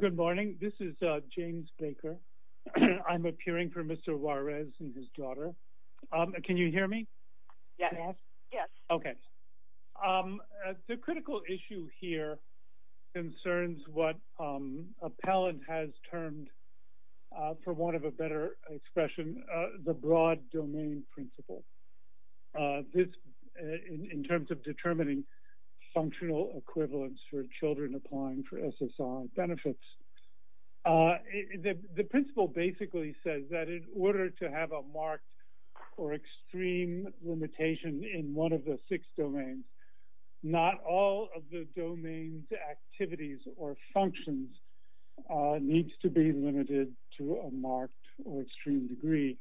Good morning. This is James Baker. I'm appearing for Mr. Juarez and his daughter. Can you hear me? Yes. Okay. The critical issue here concerns what appellant has termed for want of a better expression, the broad domain principle. In terms of determining functional equivalence for children applying for SSI benefits, the principle basically says that in order to have a marked or extreme limitation in one of the six domains, not all of the domain's activities or functions needs to be limited to a marked or extreme degree.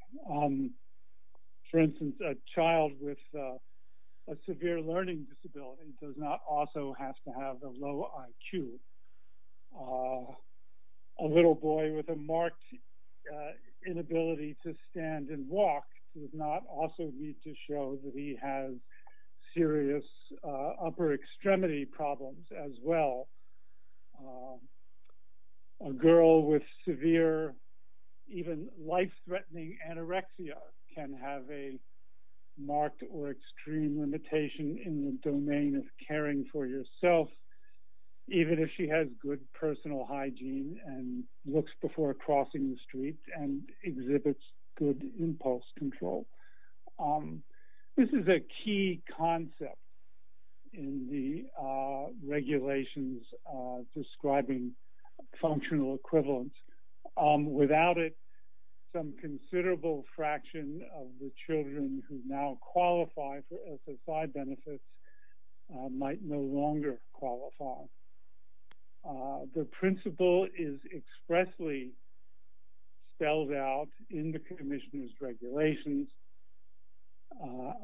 For instance, a child with a severe learning disability does not also have to have a low IQ. A little boy with a marked inability to stand and walk does not also need to show that he has serious upper extremity problems as well. A girl with severe, even life-threatening anorexia can have a marked or extreme limitation in the domain of caring for yourself, even if she has good personal hygiene and looks before crossing the street and exhibits good impulse control. This is a key concept in the regulations describing functional equivalence. Without it, some considerable fraction of the children who now qualify for SSI benefits might no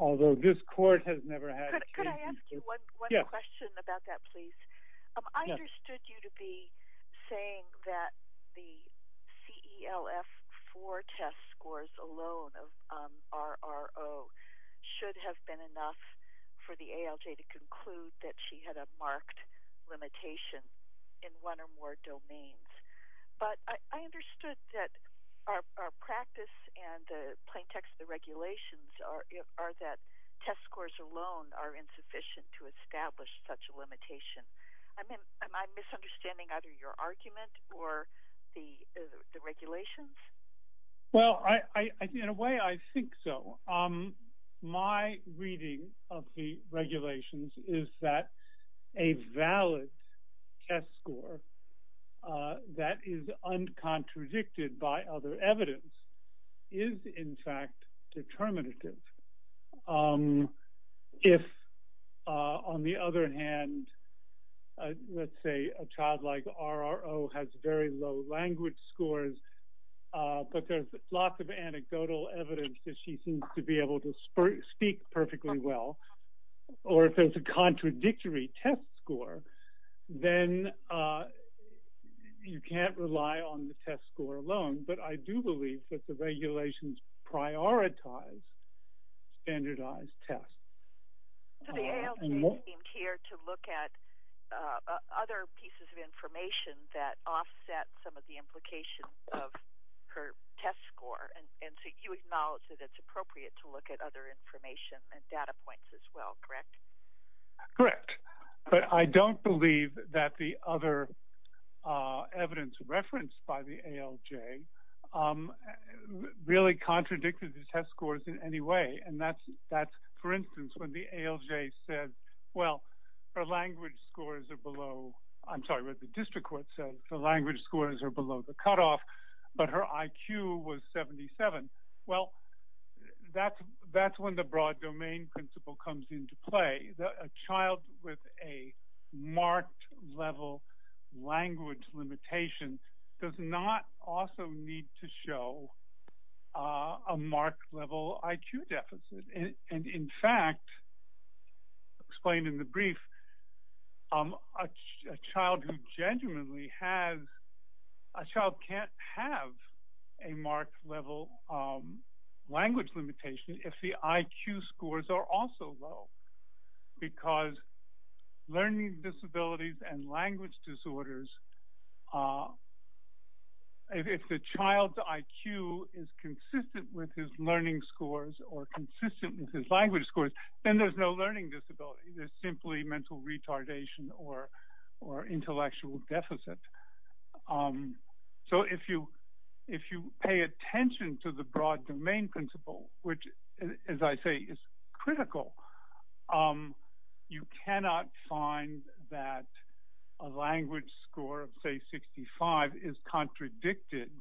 Although this court has never had a case in this case. Could I ask you one question about that, please? I understood you to be saying that the CELF-4 test scores alone of RRO should have been enough for the ALJ to conclude that she had a marked limitation in one or more domains. But I understood that our practice and the plaintext of the regulations are that test scores alone are insufficient to establish such a limitation. I mean, am I misunderstanding either your argument or the regulations? Well, in a way, I think so. My reading of the regulations is that a valid test score that is uncontradicted by other evidence is in fact determinative. If, on the other hand, let's say a child like RRO has very low language scores, but there's lots of anecdotal evidence that she seems to be able to speak perfectly well, or if there's a contradictory test score, then you can't rely on the test score alone. But I do believe that the regulations prioritize standardized tests. So the ALJ came here to look at other pieces of information that offset some of the implications of her test score. And so you acknowledge that it's appropriate to look at other information and data points as well, correct? Correct. But I don't believe that the other evidence referenced by the ALJ really contradicted the test scores in any way. And that's, for instance, when the ALJ said, well, her language scores are below, I'm sorry, what the district court said, the language scores are below the cutoff, but her IQ was 77. Well, that's when the broad domain principle comes into play. A child with a marked level language limitation does not also need to show a marked level IQ deficit. And in fact, explained in the brief, a child can't have a marked level language limitation if the IQ scores are also low, because learning disabilities and language disorders, if the child's IQ is consistent with his learning scores or consistent with his language scores, then there's no learning disability. There's simply mental retardation or intellectual deficit. So if you pay attention to the broad domain principle, which as I say, is critical, you cannot find that a language score of say 65 is contradicted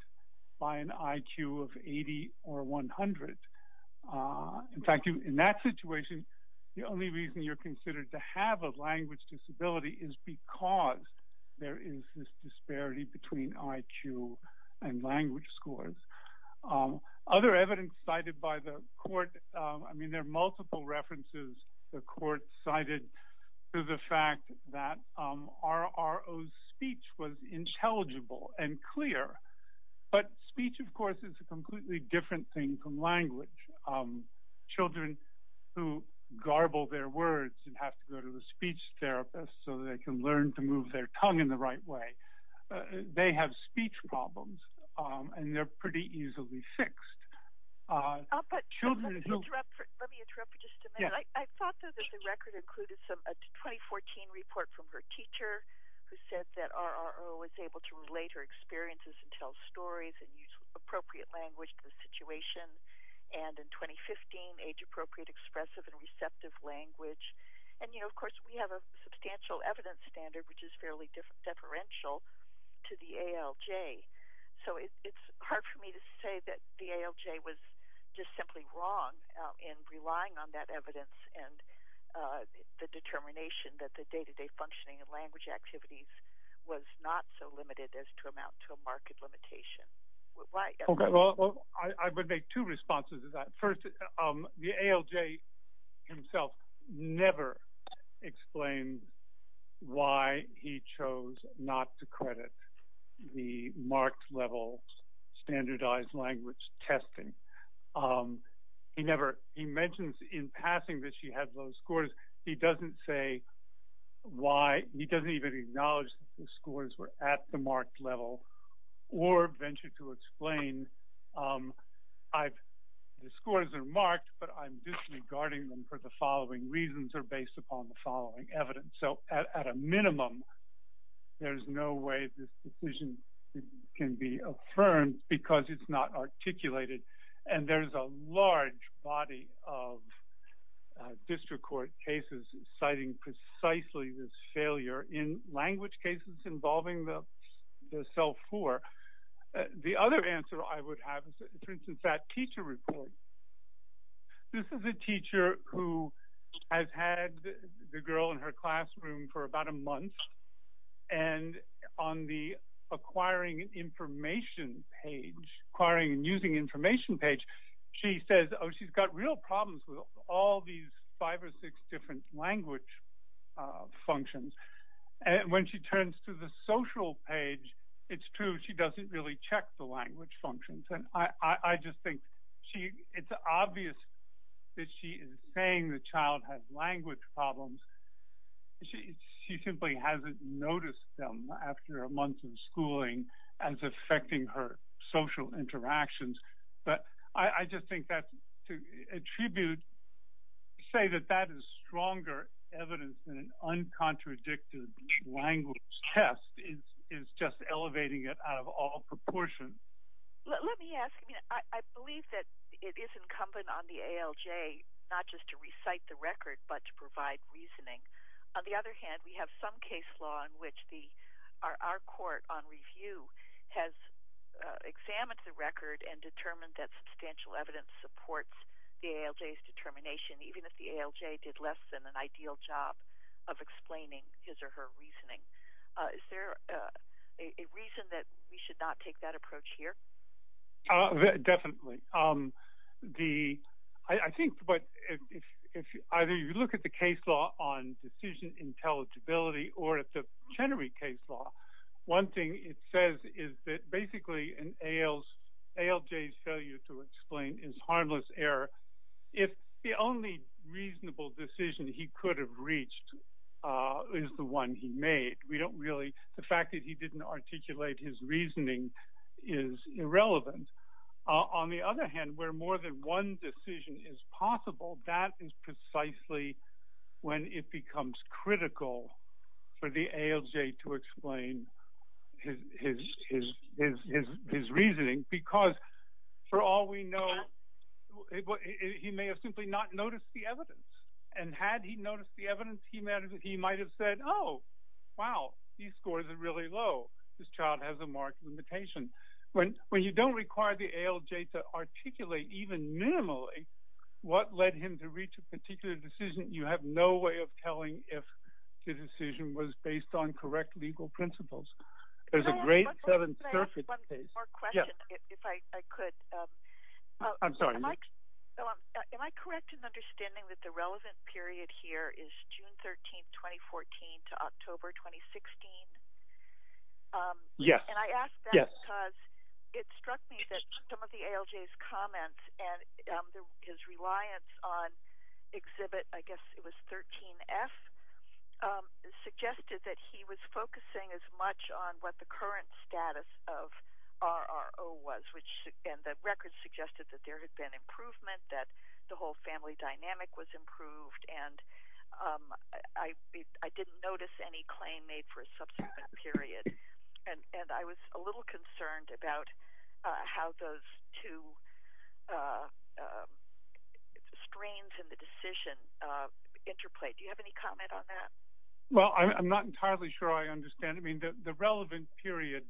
by an IQ of 80 or 100. In fact, in that situation, the only reason you're considered to have a language disability is because there is this disparity between IQ and language scores. Other evidence cited by the court, I mean, there are multiple references the court cited to the fact that RRO's speech was intelligible and clear. But speech, of course, is a completely different thing from language. Children who garble their words and have to go to the speech therapist so they can learn to move their tongue in the right way, they have speech problems and they're pretty easily fixed. Let me interrupt for just a minute. I thought that the record included a 2014 report from her teacher who said that RRO was able to relate her experiences and tell stories and use appropriate language to the situation. And in 2015, age-appropriate expressive and receptive language. And you know, of course, we have a substantial evidence standard, which is fairly deferential to the ALJ. So it's hard for me to say that the ALJ was just simply wrong in relying on that evidence and the determination that the day-to-day functioning of language activities was not so limited as to amount to a marked limitation. Why? Okay, well, I would make two responses to that. First, the ALJ himself never explained why he passed that she had low scores. He doesn't say why. He doesn't even acknowledge that the scores were at the marked level or venture to explain the scores are marked, but I'm disregarding them for the following reasons or based upon the following evidence. So at a minimum, there's no way this decision can be affirmed because it's not articulated. And there's a large body of district court cases citing precisely this failure in language cases involving the CELF-4. The other answer I would have is, for instance, that teacher report. This is a teacher who has had the girl in her classroom for about a month. And on the acquiring information page, acquiring and using information page, she says, oh, she's got real problems with all these five or six different language functions. And when she turns to the social page, it's true she doesn't really check the language functions. And I just think it's obvious that she is saying the child has language problems. She simply hasn't noticed them after a month of saying that that is stronger evidence than an uncontradicted language test is just elevating it out of all proportion. Let me ask, I mean, I believe that it is incumbent on the ALJ not just to recite the record, but to provide reasoning. On the other hand, we have some case law in which our court on review has examined the record and determined that substantial evidence supports the ALJ's determination, even if the ALJ did less than an ideal job of explaining his or her reasoning. Is there a reason that we should not take that approach here? Definitely. I think either you look at the case law on decision intelligibility or at the Chenery case law. One thing it says is that basically an ALJ's failure to explain is harmless error. If the only reasonable decision he could have reached is the one he made, we don't really, the fact that he didn't articulate his reasoning is irrelevant. On the other hand, where more than one decision is possible, that is precisely when it becomes critical for the ALJ to explain his reasoning, because for all we know, he may have simply not noticed the evidence. And had he noticed the evidence, he might have said, oh, wow, these scores are really low. This child has a marked limitation. When you don't require the ALJ to articulate even minimally what led him to reach a particular decision, you have no way of telling if the decision was based on correct legal principles. There's a great... Can I ask one more question, if I could? I'm sorry. Am I correct in understanding that the relevant period here is June 13, 2014 to October 2016? Yeah. And I ask that because it struck me that some of the ALJ's comments and his reliance on Exhibit, I guess it was 13F, suggested that he was focusing as much on what the current status of RRO was, and the records suggested that there had been improvement, that the whole family dynamic was improved, and I didn't notice any claim made for a subsequent period. And I was a little concerned about how those two strains in the decision interplay. Do you have any comment on that? Well, I'm not entirely sure I understand. I mean, the relevant period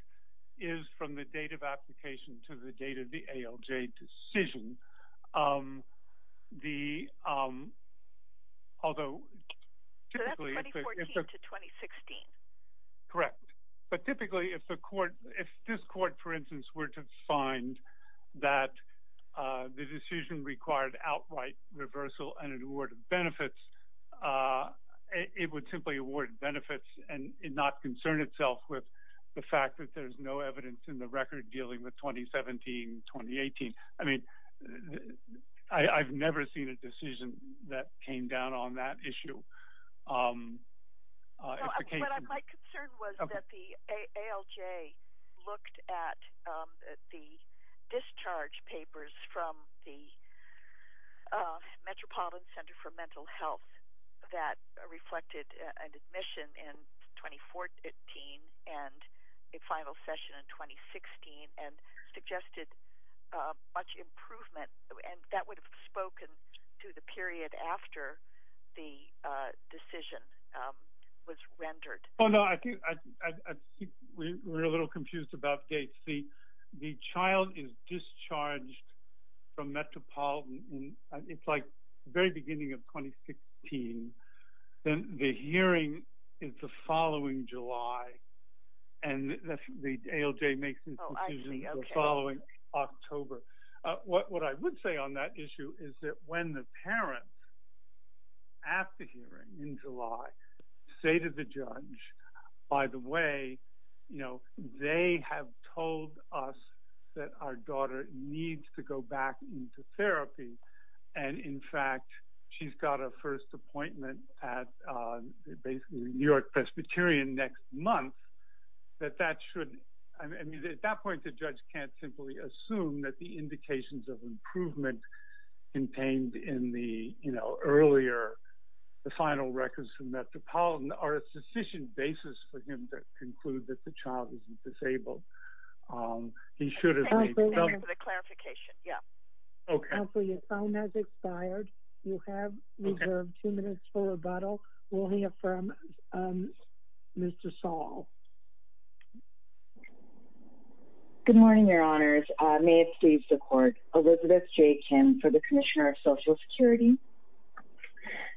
is from the date of application to the date of the ALJ decision. The... Although... So that's 2014 to 2016. Correct. But typically, if this court, for instance, were to find that the decision required outright reversal and an award of benefits, it would simply award benefits and not concern itself with the fact that there's no evidence in the record dealing with 2017, 2018. I mean, I've never seen a decision that came down on that issue. But my concern was that the ALJ looked at the discharge papers from the Metropolitan Center for Mental Health that reflected an admission in 2014 and a final session in 2016 and suggested much improvement, and that would have spoken to the period after the decision was rendered. Oh, no. I think we're a little confused about dates. The child is discharged from Metropolitan, and it's like the very beginning of the decision. Oh, I see. Okay. The following October. What I would say on that issue is that when the parents at the hearing in July say to the judge, by the way, they have told us that our daughter needs to go back into therapy, and in fact, she's got a first appointment at basically New York Presbyterian next month, that that should... I mean, at that point, the judge can't simply assume that the indications of improvement contained in the earlier, the final records from Metropolitan are a sufficient basis for him to conclude that the child isn't disabled. He should have... Thank you for the clarification. Yeah. Okay. So your time has expired. You have reserved two minutes for rebuttal. We'll hear from Mr. Saul. Good morning, your honors. May it please the court. Elizabeth J. Kim for the Commissioner of Social Security.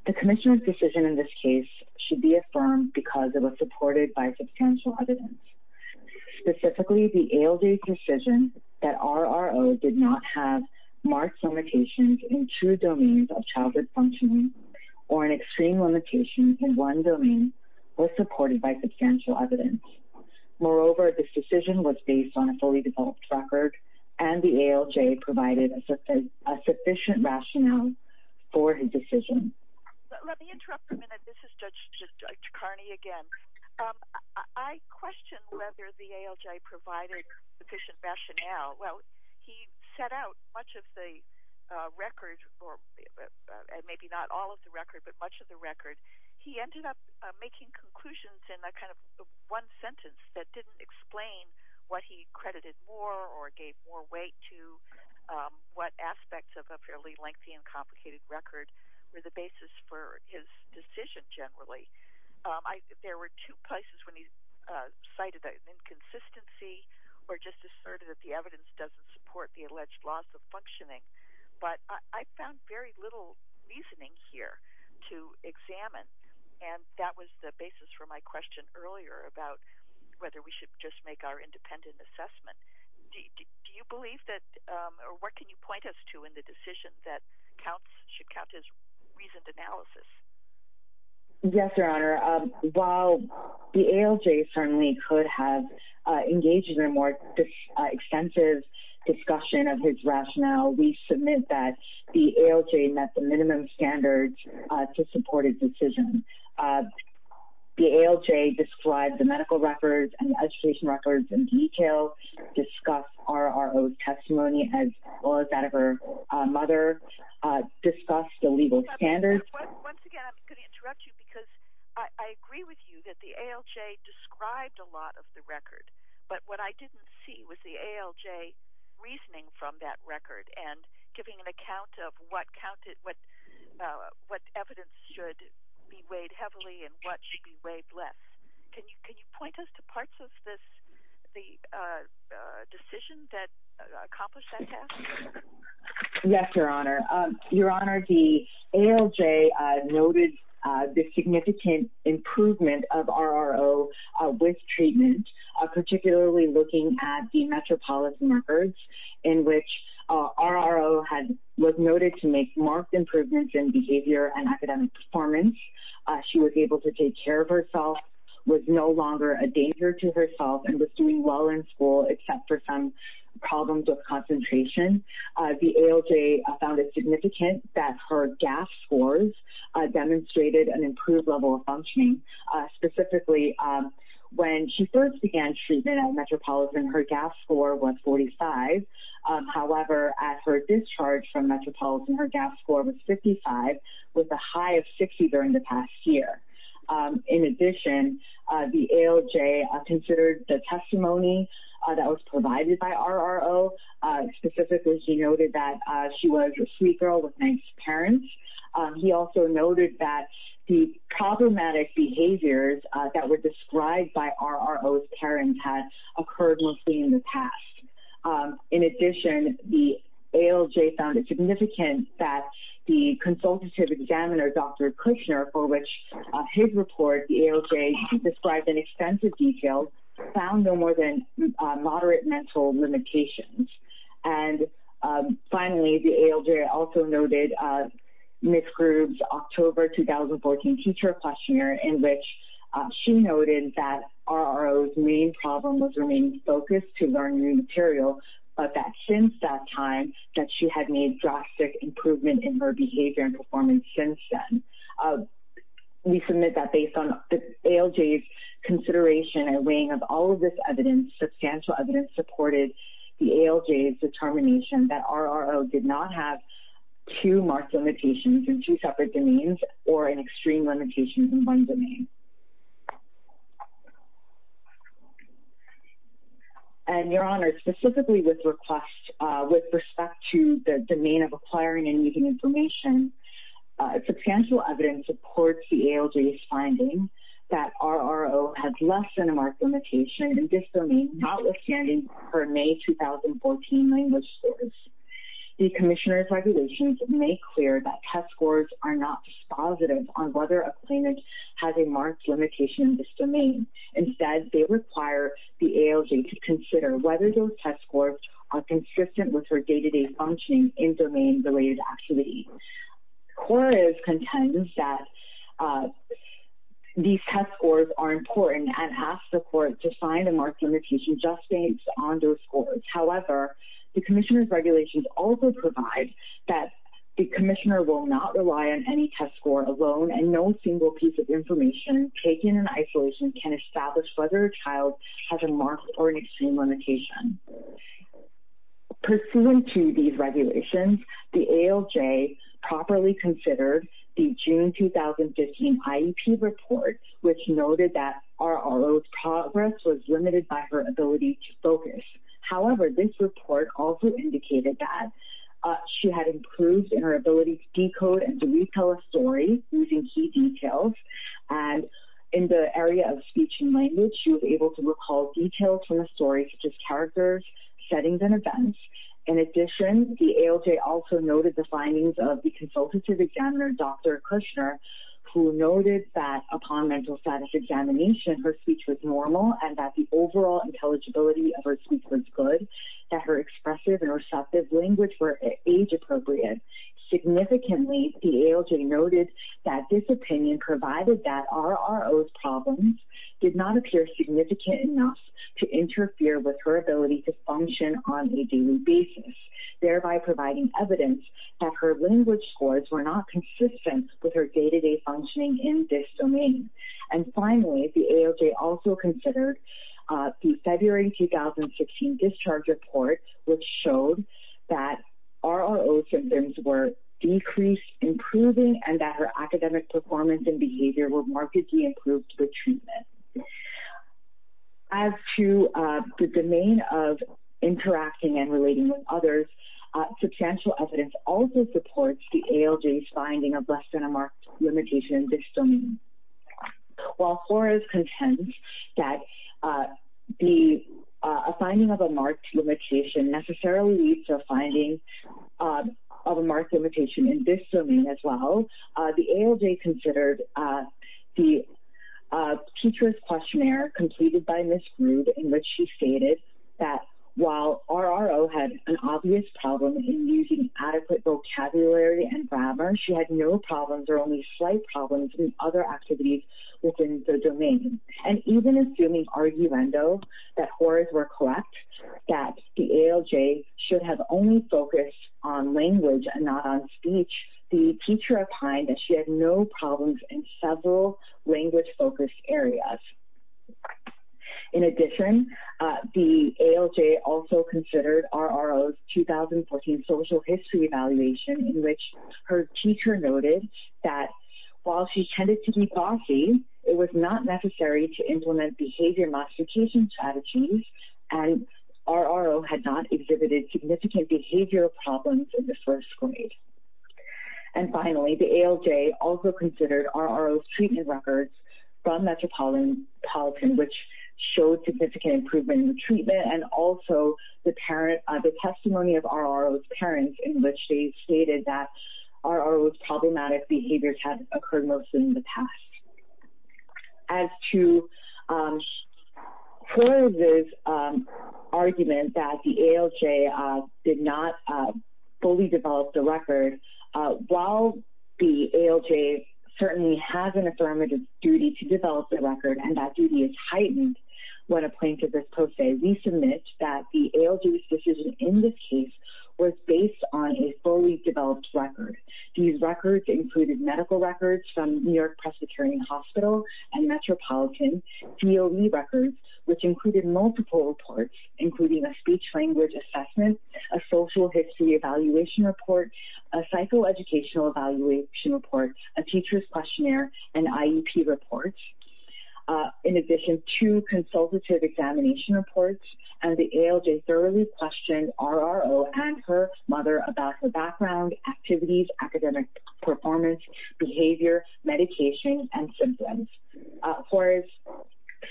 The commissioner's decision in this case should be affirmed because it was supported by substantial evidence, specifically the ALD decision that RRO did not have marks limitations in two domains of childhood functioning or an extreme limitation in one domain was supported by substantial evidence. Moreover, this decision was based on a fully developed record and the ALJ provided a sufficient rationale for his decision. Let me interrupt for a minute. This is Judge Kearney again. I question whether the ALJ provided sufficient rationale. Well, he set out much of the record, or maybe not all of the record, but much of the record. He ended up making conclusions in that kind of one sentence that didn't explain what he credited more or gave more weight to what aspects of a fairly lengthy and complicated record were the basis for his decision generally. There were two places when he cited inconsistency or just asserted that the evidence doesn't support the alleged loss of functioning, but I found very little reasoning here to examine and that was the basis for my question earlier about whether we should just make our independent assessment. Do you believe that, or what can you point us to in the decision that counts, should count as reasoned analysis? Yes, your honor. While the ALJ certainly could have engaged in a more extensive discussion of his rationale, we submit that the ALJ met the minimum standards to support his decision. The ALJ described the medical records and the education records in detail, discussed RRO's testimony as well as that of her mother, discussed the legal standards. Once again, I'm going to interrupt you because I agree with you that the ALJ described a lot of the record, but what I didn't see was the ALJ reasoning from that record and giving an account of what evidence should be weighed heavily and what should be weighed less. Can you point us to parts of this, the decision that accomplished that task? Yes, your honor. Your honor, the ALJ noted the significant improvement of RRO with treatment, particularly looking at the metropolis records in which RRO was noted to make marked improvements in behavior and academic performance. She was able to take care of herself, was no longer a except for some problems with concentration. The ALJ found it significant that her GAF scores demonstrated an improved level of functioning. Specifically, when she first began treatment at Metropolitan, her GAF score was 45. However, at her discharge from Metropolitan, her GAF score was 55 with a high of 60 during the past year. In addition, the ALJ considered the testimony that was provided by RRO. Specifically, she noted that she was a sweet girl with nice parents. He also noted that the problematic behaviors that were described by RRO's parents had occurred mostly in the past. In addition, the ALJ found it significant that the consultative examiner, Dr. Kushner, for which his report, the ALJ described in extensive detail, found no more than moderate mental limitations. Finally, the ALJ also noted Ms. Grube's October 2014 teacher questionnaire in which she noted that RRO's main problem was remaining focused to learn new material, but that since that time that she had made drastic improvement in her behavior and performance since then. We submit that based on the ALJ's consideration and weighing of all of this evidence, substantial evidence supported the ALJ's determination that RRO did not have two marked limitations in two separate domains or an extreme limitation in one domain. Your Honor, specifically with respect to the domain of acquiring and using information, substantial evidence supports the ALJ's finding that RRO had less than a marked limitation in her May 2014 language scores. The Commissioner's regulations make clear that test scores are not dispositive on whether a claimant has a marked limitation in this domain. Instead, they require the ALJ to consider whether those test scores are consistent with her day-to-day functioning in domain-related activities. The Court contends that these test scores are important and asks the Court to find a marked limitation just based on those scores. However, the Commissioner's regulations also provide that the Commissioner will not rely on any test score alone and no single piece of information taken in isolation can establish whether a child has a marked or an extreme limitation. Pursuant to these regulations, the ALJ properly considered the June 2015 IEP report, which noted that RRO's progress was limited by her ability to focus. However, this report also indicated that she had improved in her ability to decode and retell a story using key details. In the area of speech and language, she was able to recall details from the story, such as characters, settings, and events. In addition, the ALJ also noted the upon mental status examination, her speech was normal and that the overall intelligibility of her speech was good, that her expressive and receptive language were age-appropriate. Significantly, the ALJ noted that this opinion provided that RRO's problems did not appear significant enough to interfere with her ability to function on a daily basis, thereby providing evidence that her language scores were not consistent with her day-to-day functioning in this domain. And finally, the ALJ also considered the February 2016 discharge report, which showed that RRO symptoms were decreased, improving, and that her academic performance and behavior were markedly improved with treatment. As to the domain of interacting and relating with others, substantial evidence also supports the ALJ's finding of less than a marked limitation in this domain. While Flora is content that a finding of a marked limitation necessarily leads to a finding of a marked limitation in this domain as well, the ALJ had an obvious problem in using adequate vocabulary and grammar. She had no problems or only slight problems in other activities within the domain. And even assuming arguendo that horrors were correct, that the ALJ should have only focused on language and not on speech, the teacher opined that she had no problems in several language-focused areas. In addition, the ALJ also considered RRO's 2014 social history evaluation, in which her teacher noted that while she tended to be bossy, it was not necessary to implement behavior modification strategies, and RRO had not exhibited significant behavioral problems in the first grade. And finally, the ALJ also considered RRO's treatment records from Metropolitan, which showed significant improvement in the treatment, and also the testimony of RRO's parents, in which they stated that RRO's problematic behaviors had occurred mostly in the past. As to Flora's argument that the ALJ did not fully develop the record, while the ALJ certainly has an affirmative duty to develop the record, and that duty is heightened when a plaintiff is pro se, we submit that the ALJ's decision in this case was based on a fully developed record. These records included medical records from New York Presbyterian Hospital and Metropolitan, DOE records, which included multiple reports, including a speech-language assessment, a social history evaluation report, a psychoeducational evaluation report, a teacher's questionnaire, an IEP report, in addition to consultative examination reports, and the ALJ thoroughly questioned RRO and her mother about her background, activities, academic performance, behavior, medication, and symptoms. Flora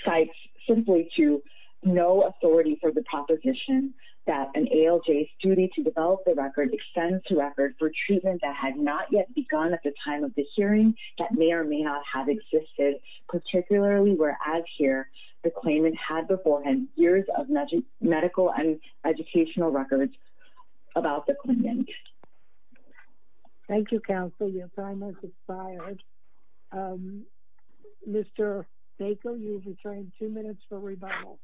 cites simply to no authority for the proposition that an ALJ's duty to develop the record extends to record for treatment that had not yet begun at the time of the hearing, that may or may not have existed, particularly where, as here, the claimant had beforehand years of medical and educational records about the claimant. Thank you, counsel. Your time has expired. Mr. Baker, you've retained two minutes for rebuttal.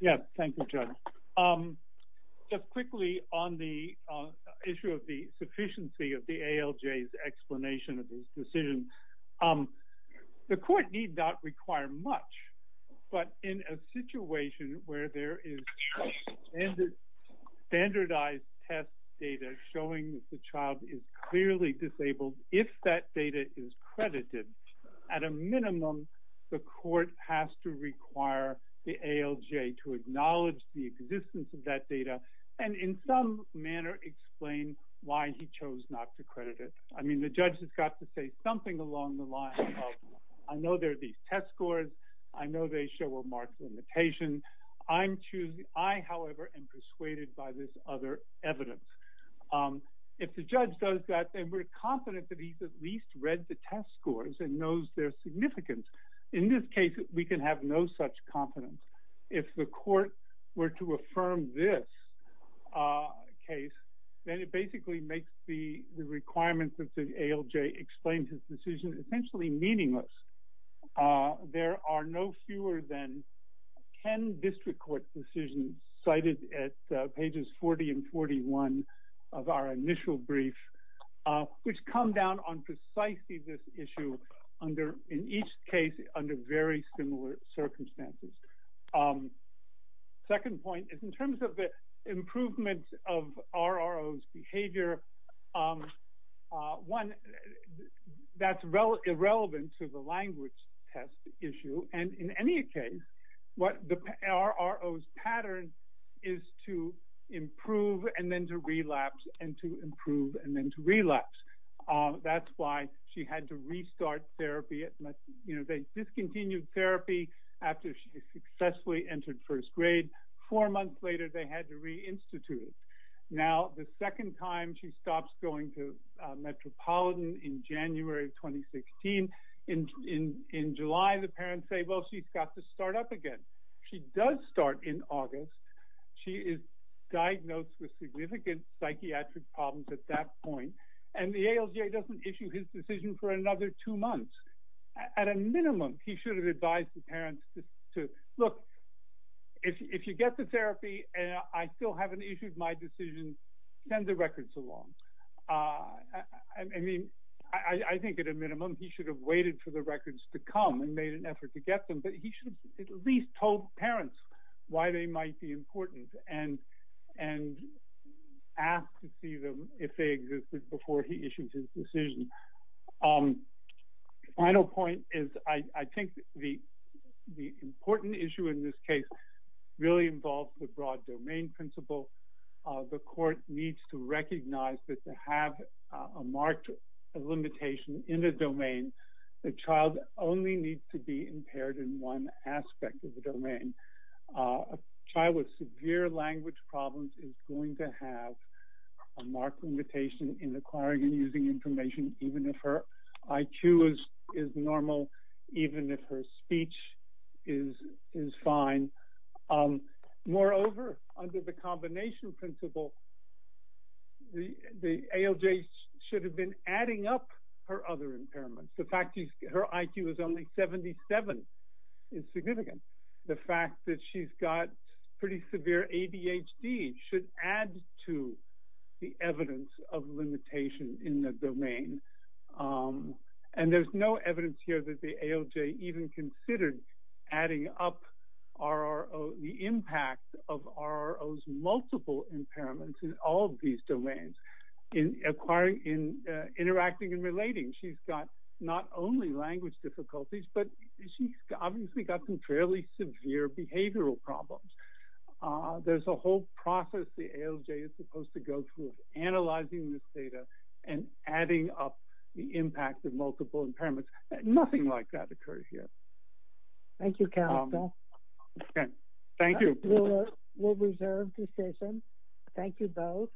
Yes, thank you, Judge. Just quickly on the issue of the sufficiency of the ALJ's explanation of these decisions, the court need not require much, but in a situation where there is standardized test data showing that the child is clearly disabled, if that data is credited, at a minimum, the court has to require the ALJ to acknowledge the existence of that data and in some manner explain why he chose not to credit it. I mean, the judge has got to say something along the lines of, I know there are these test scores, I know they show a marked limitation. I, however, am persuaded by this other evidence. If the judge does that, then we're confident that he's at least read the test scores and knows their significance. In this case, we can have no such confidence. If the court were to affirm this case, then it basically makes the requirements of the ALJ explain his decision essentially meaningless. There are no fewer than 10 district court decisions cited at pages 40 and 41 of our initial brief, which come down on precisely this issue under, in each case, under very similar circumstances. Second point is in terms of the improvements of RRO's behavior, one, that's irrelevant to the language test issue. In any case, RRO's pattern is to improve and then to relapse and to improve and then to relapse. That's why she had to restart therapy. They discontinued therapy after she successfully entered first grade. Four months later, they had to reinstitute it. Now, the second time she stops going to Metropolitan in January of 2016, in July, the parents say, well, she's got to start up again. She does start in August. She is diagnosed with significant psychiatric problems at that point, and the ALJ doesn't issue his decision for another two months. At a minimum, he should have advised the parents to, look, if you get the therapy and I still haven't issued my decision, send the records along. I think at a minimum, he should have waited for the records to come and made an effort to get them, but he should have at least told parents why they might be important and ask to see them if they existed before he issued his decision. The final point is I think the important issue in this case really involves the broad domain principle. The court needs to recognize that to have a marked limitation in the domain, the child only needs to be impaired in one aspect of the limitation in acquiring and using information, even if her IQ is normal, even if her speech is fine. Moreover, under the combination principle, the ALJ should have been adding up her other impairments. The fact that her IQ is only 77 is significant. The fact that she's got pretty severe ADHD should add to the evidence of limitation in the domain. There's no evidence here that the ALJ even considered adding up the impact of RRO's multiple impairments in all of these domains in interacting and relating. She's got not only language difficulties, but she's obviously got some fairly severe behavioral problems. There's a whole process the ALJ is supposed to go through analyzing this data and adding up the impact of multiple impairments. Nothing like that occurs here. Thank you, counsel. Thank you. We'll reserve this session. Thank you both.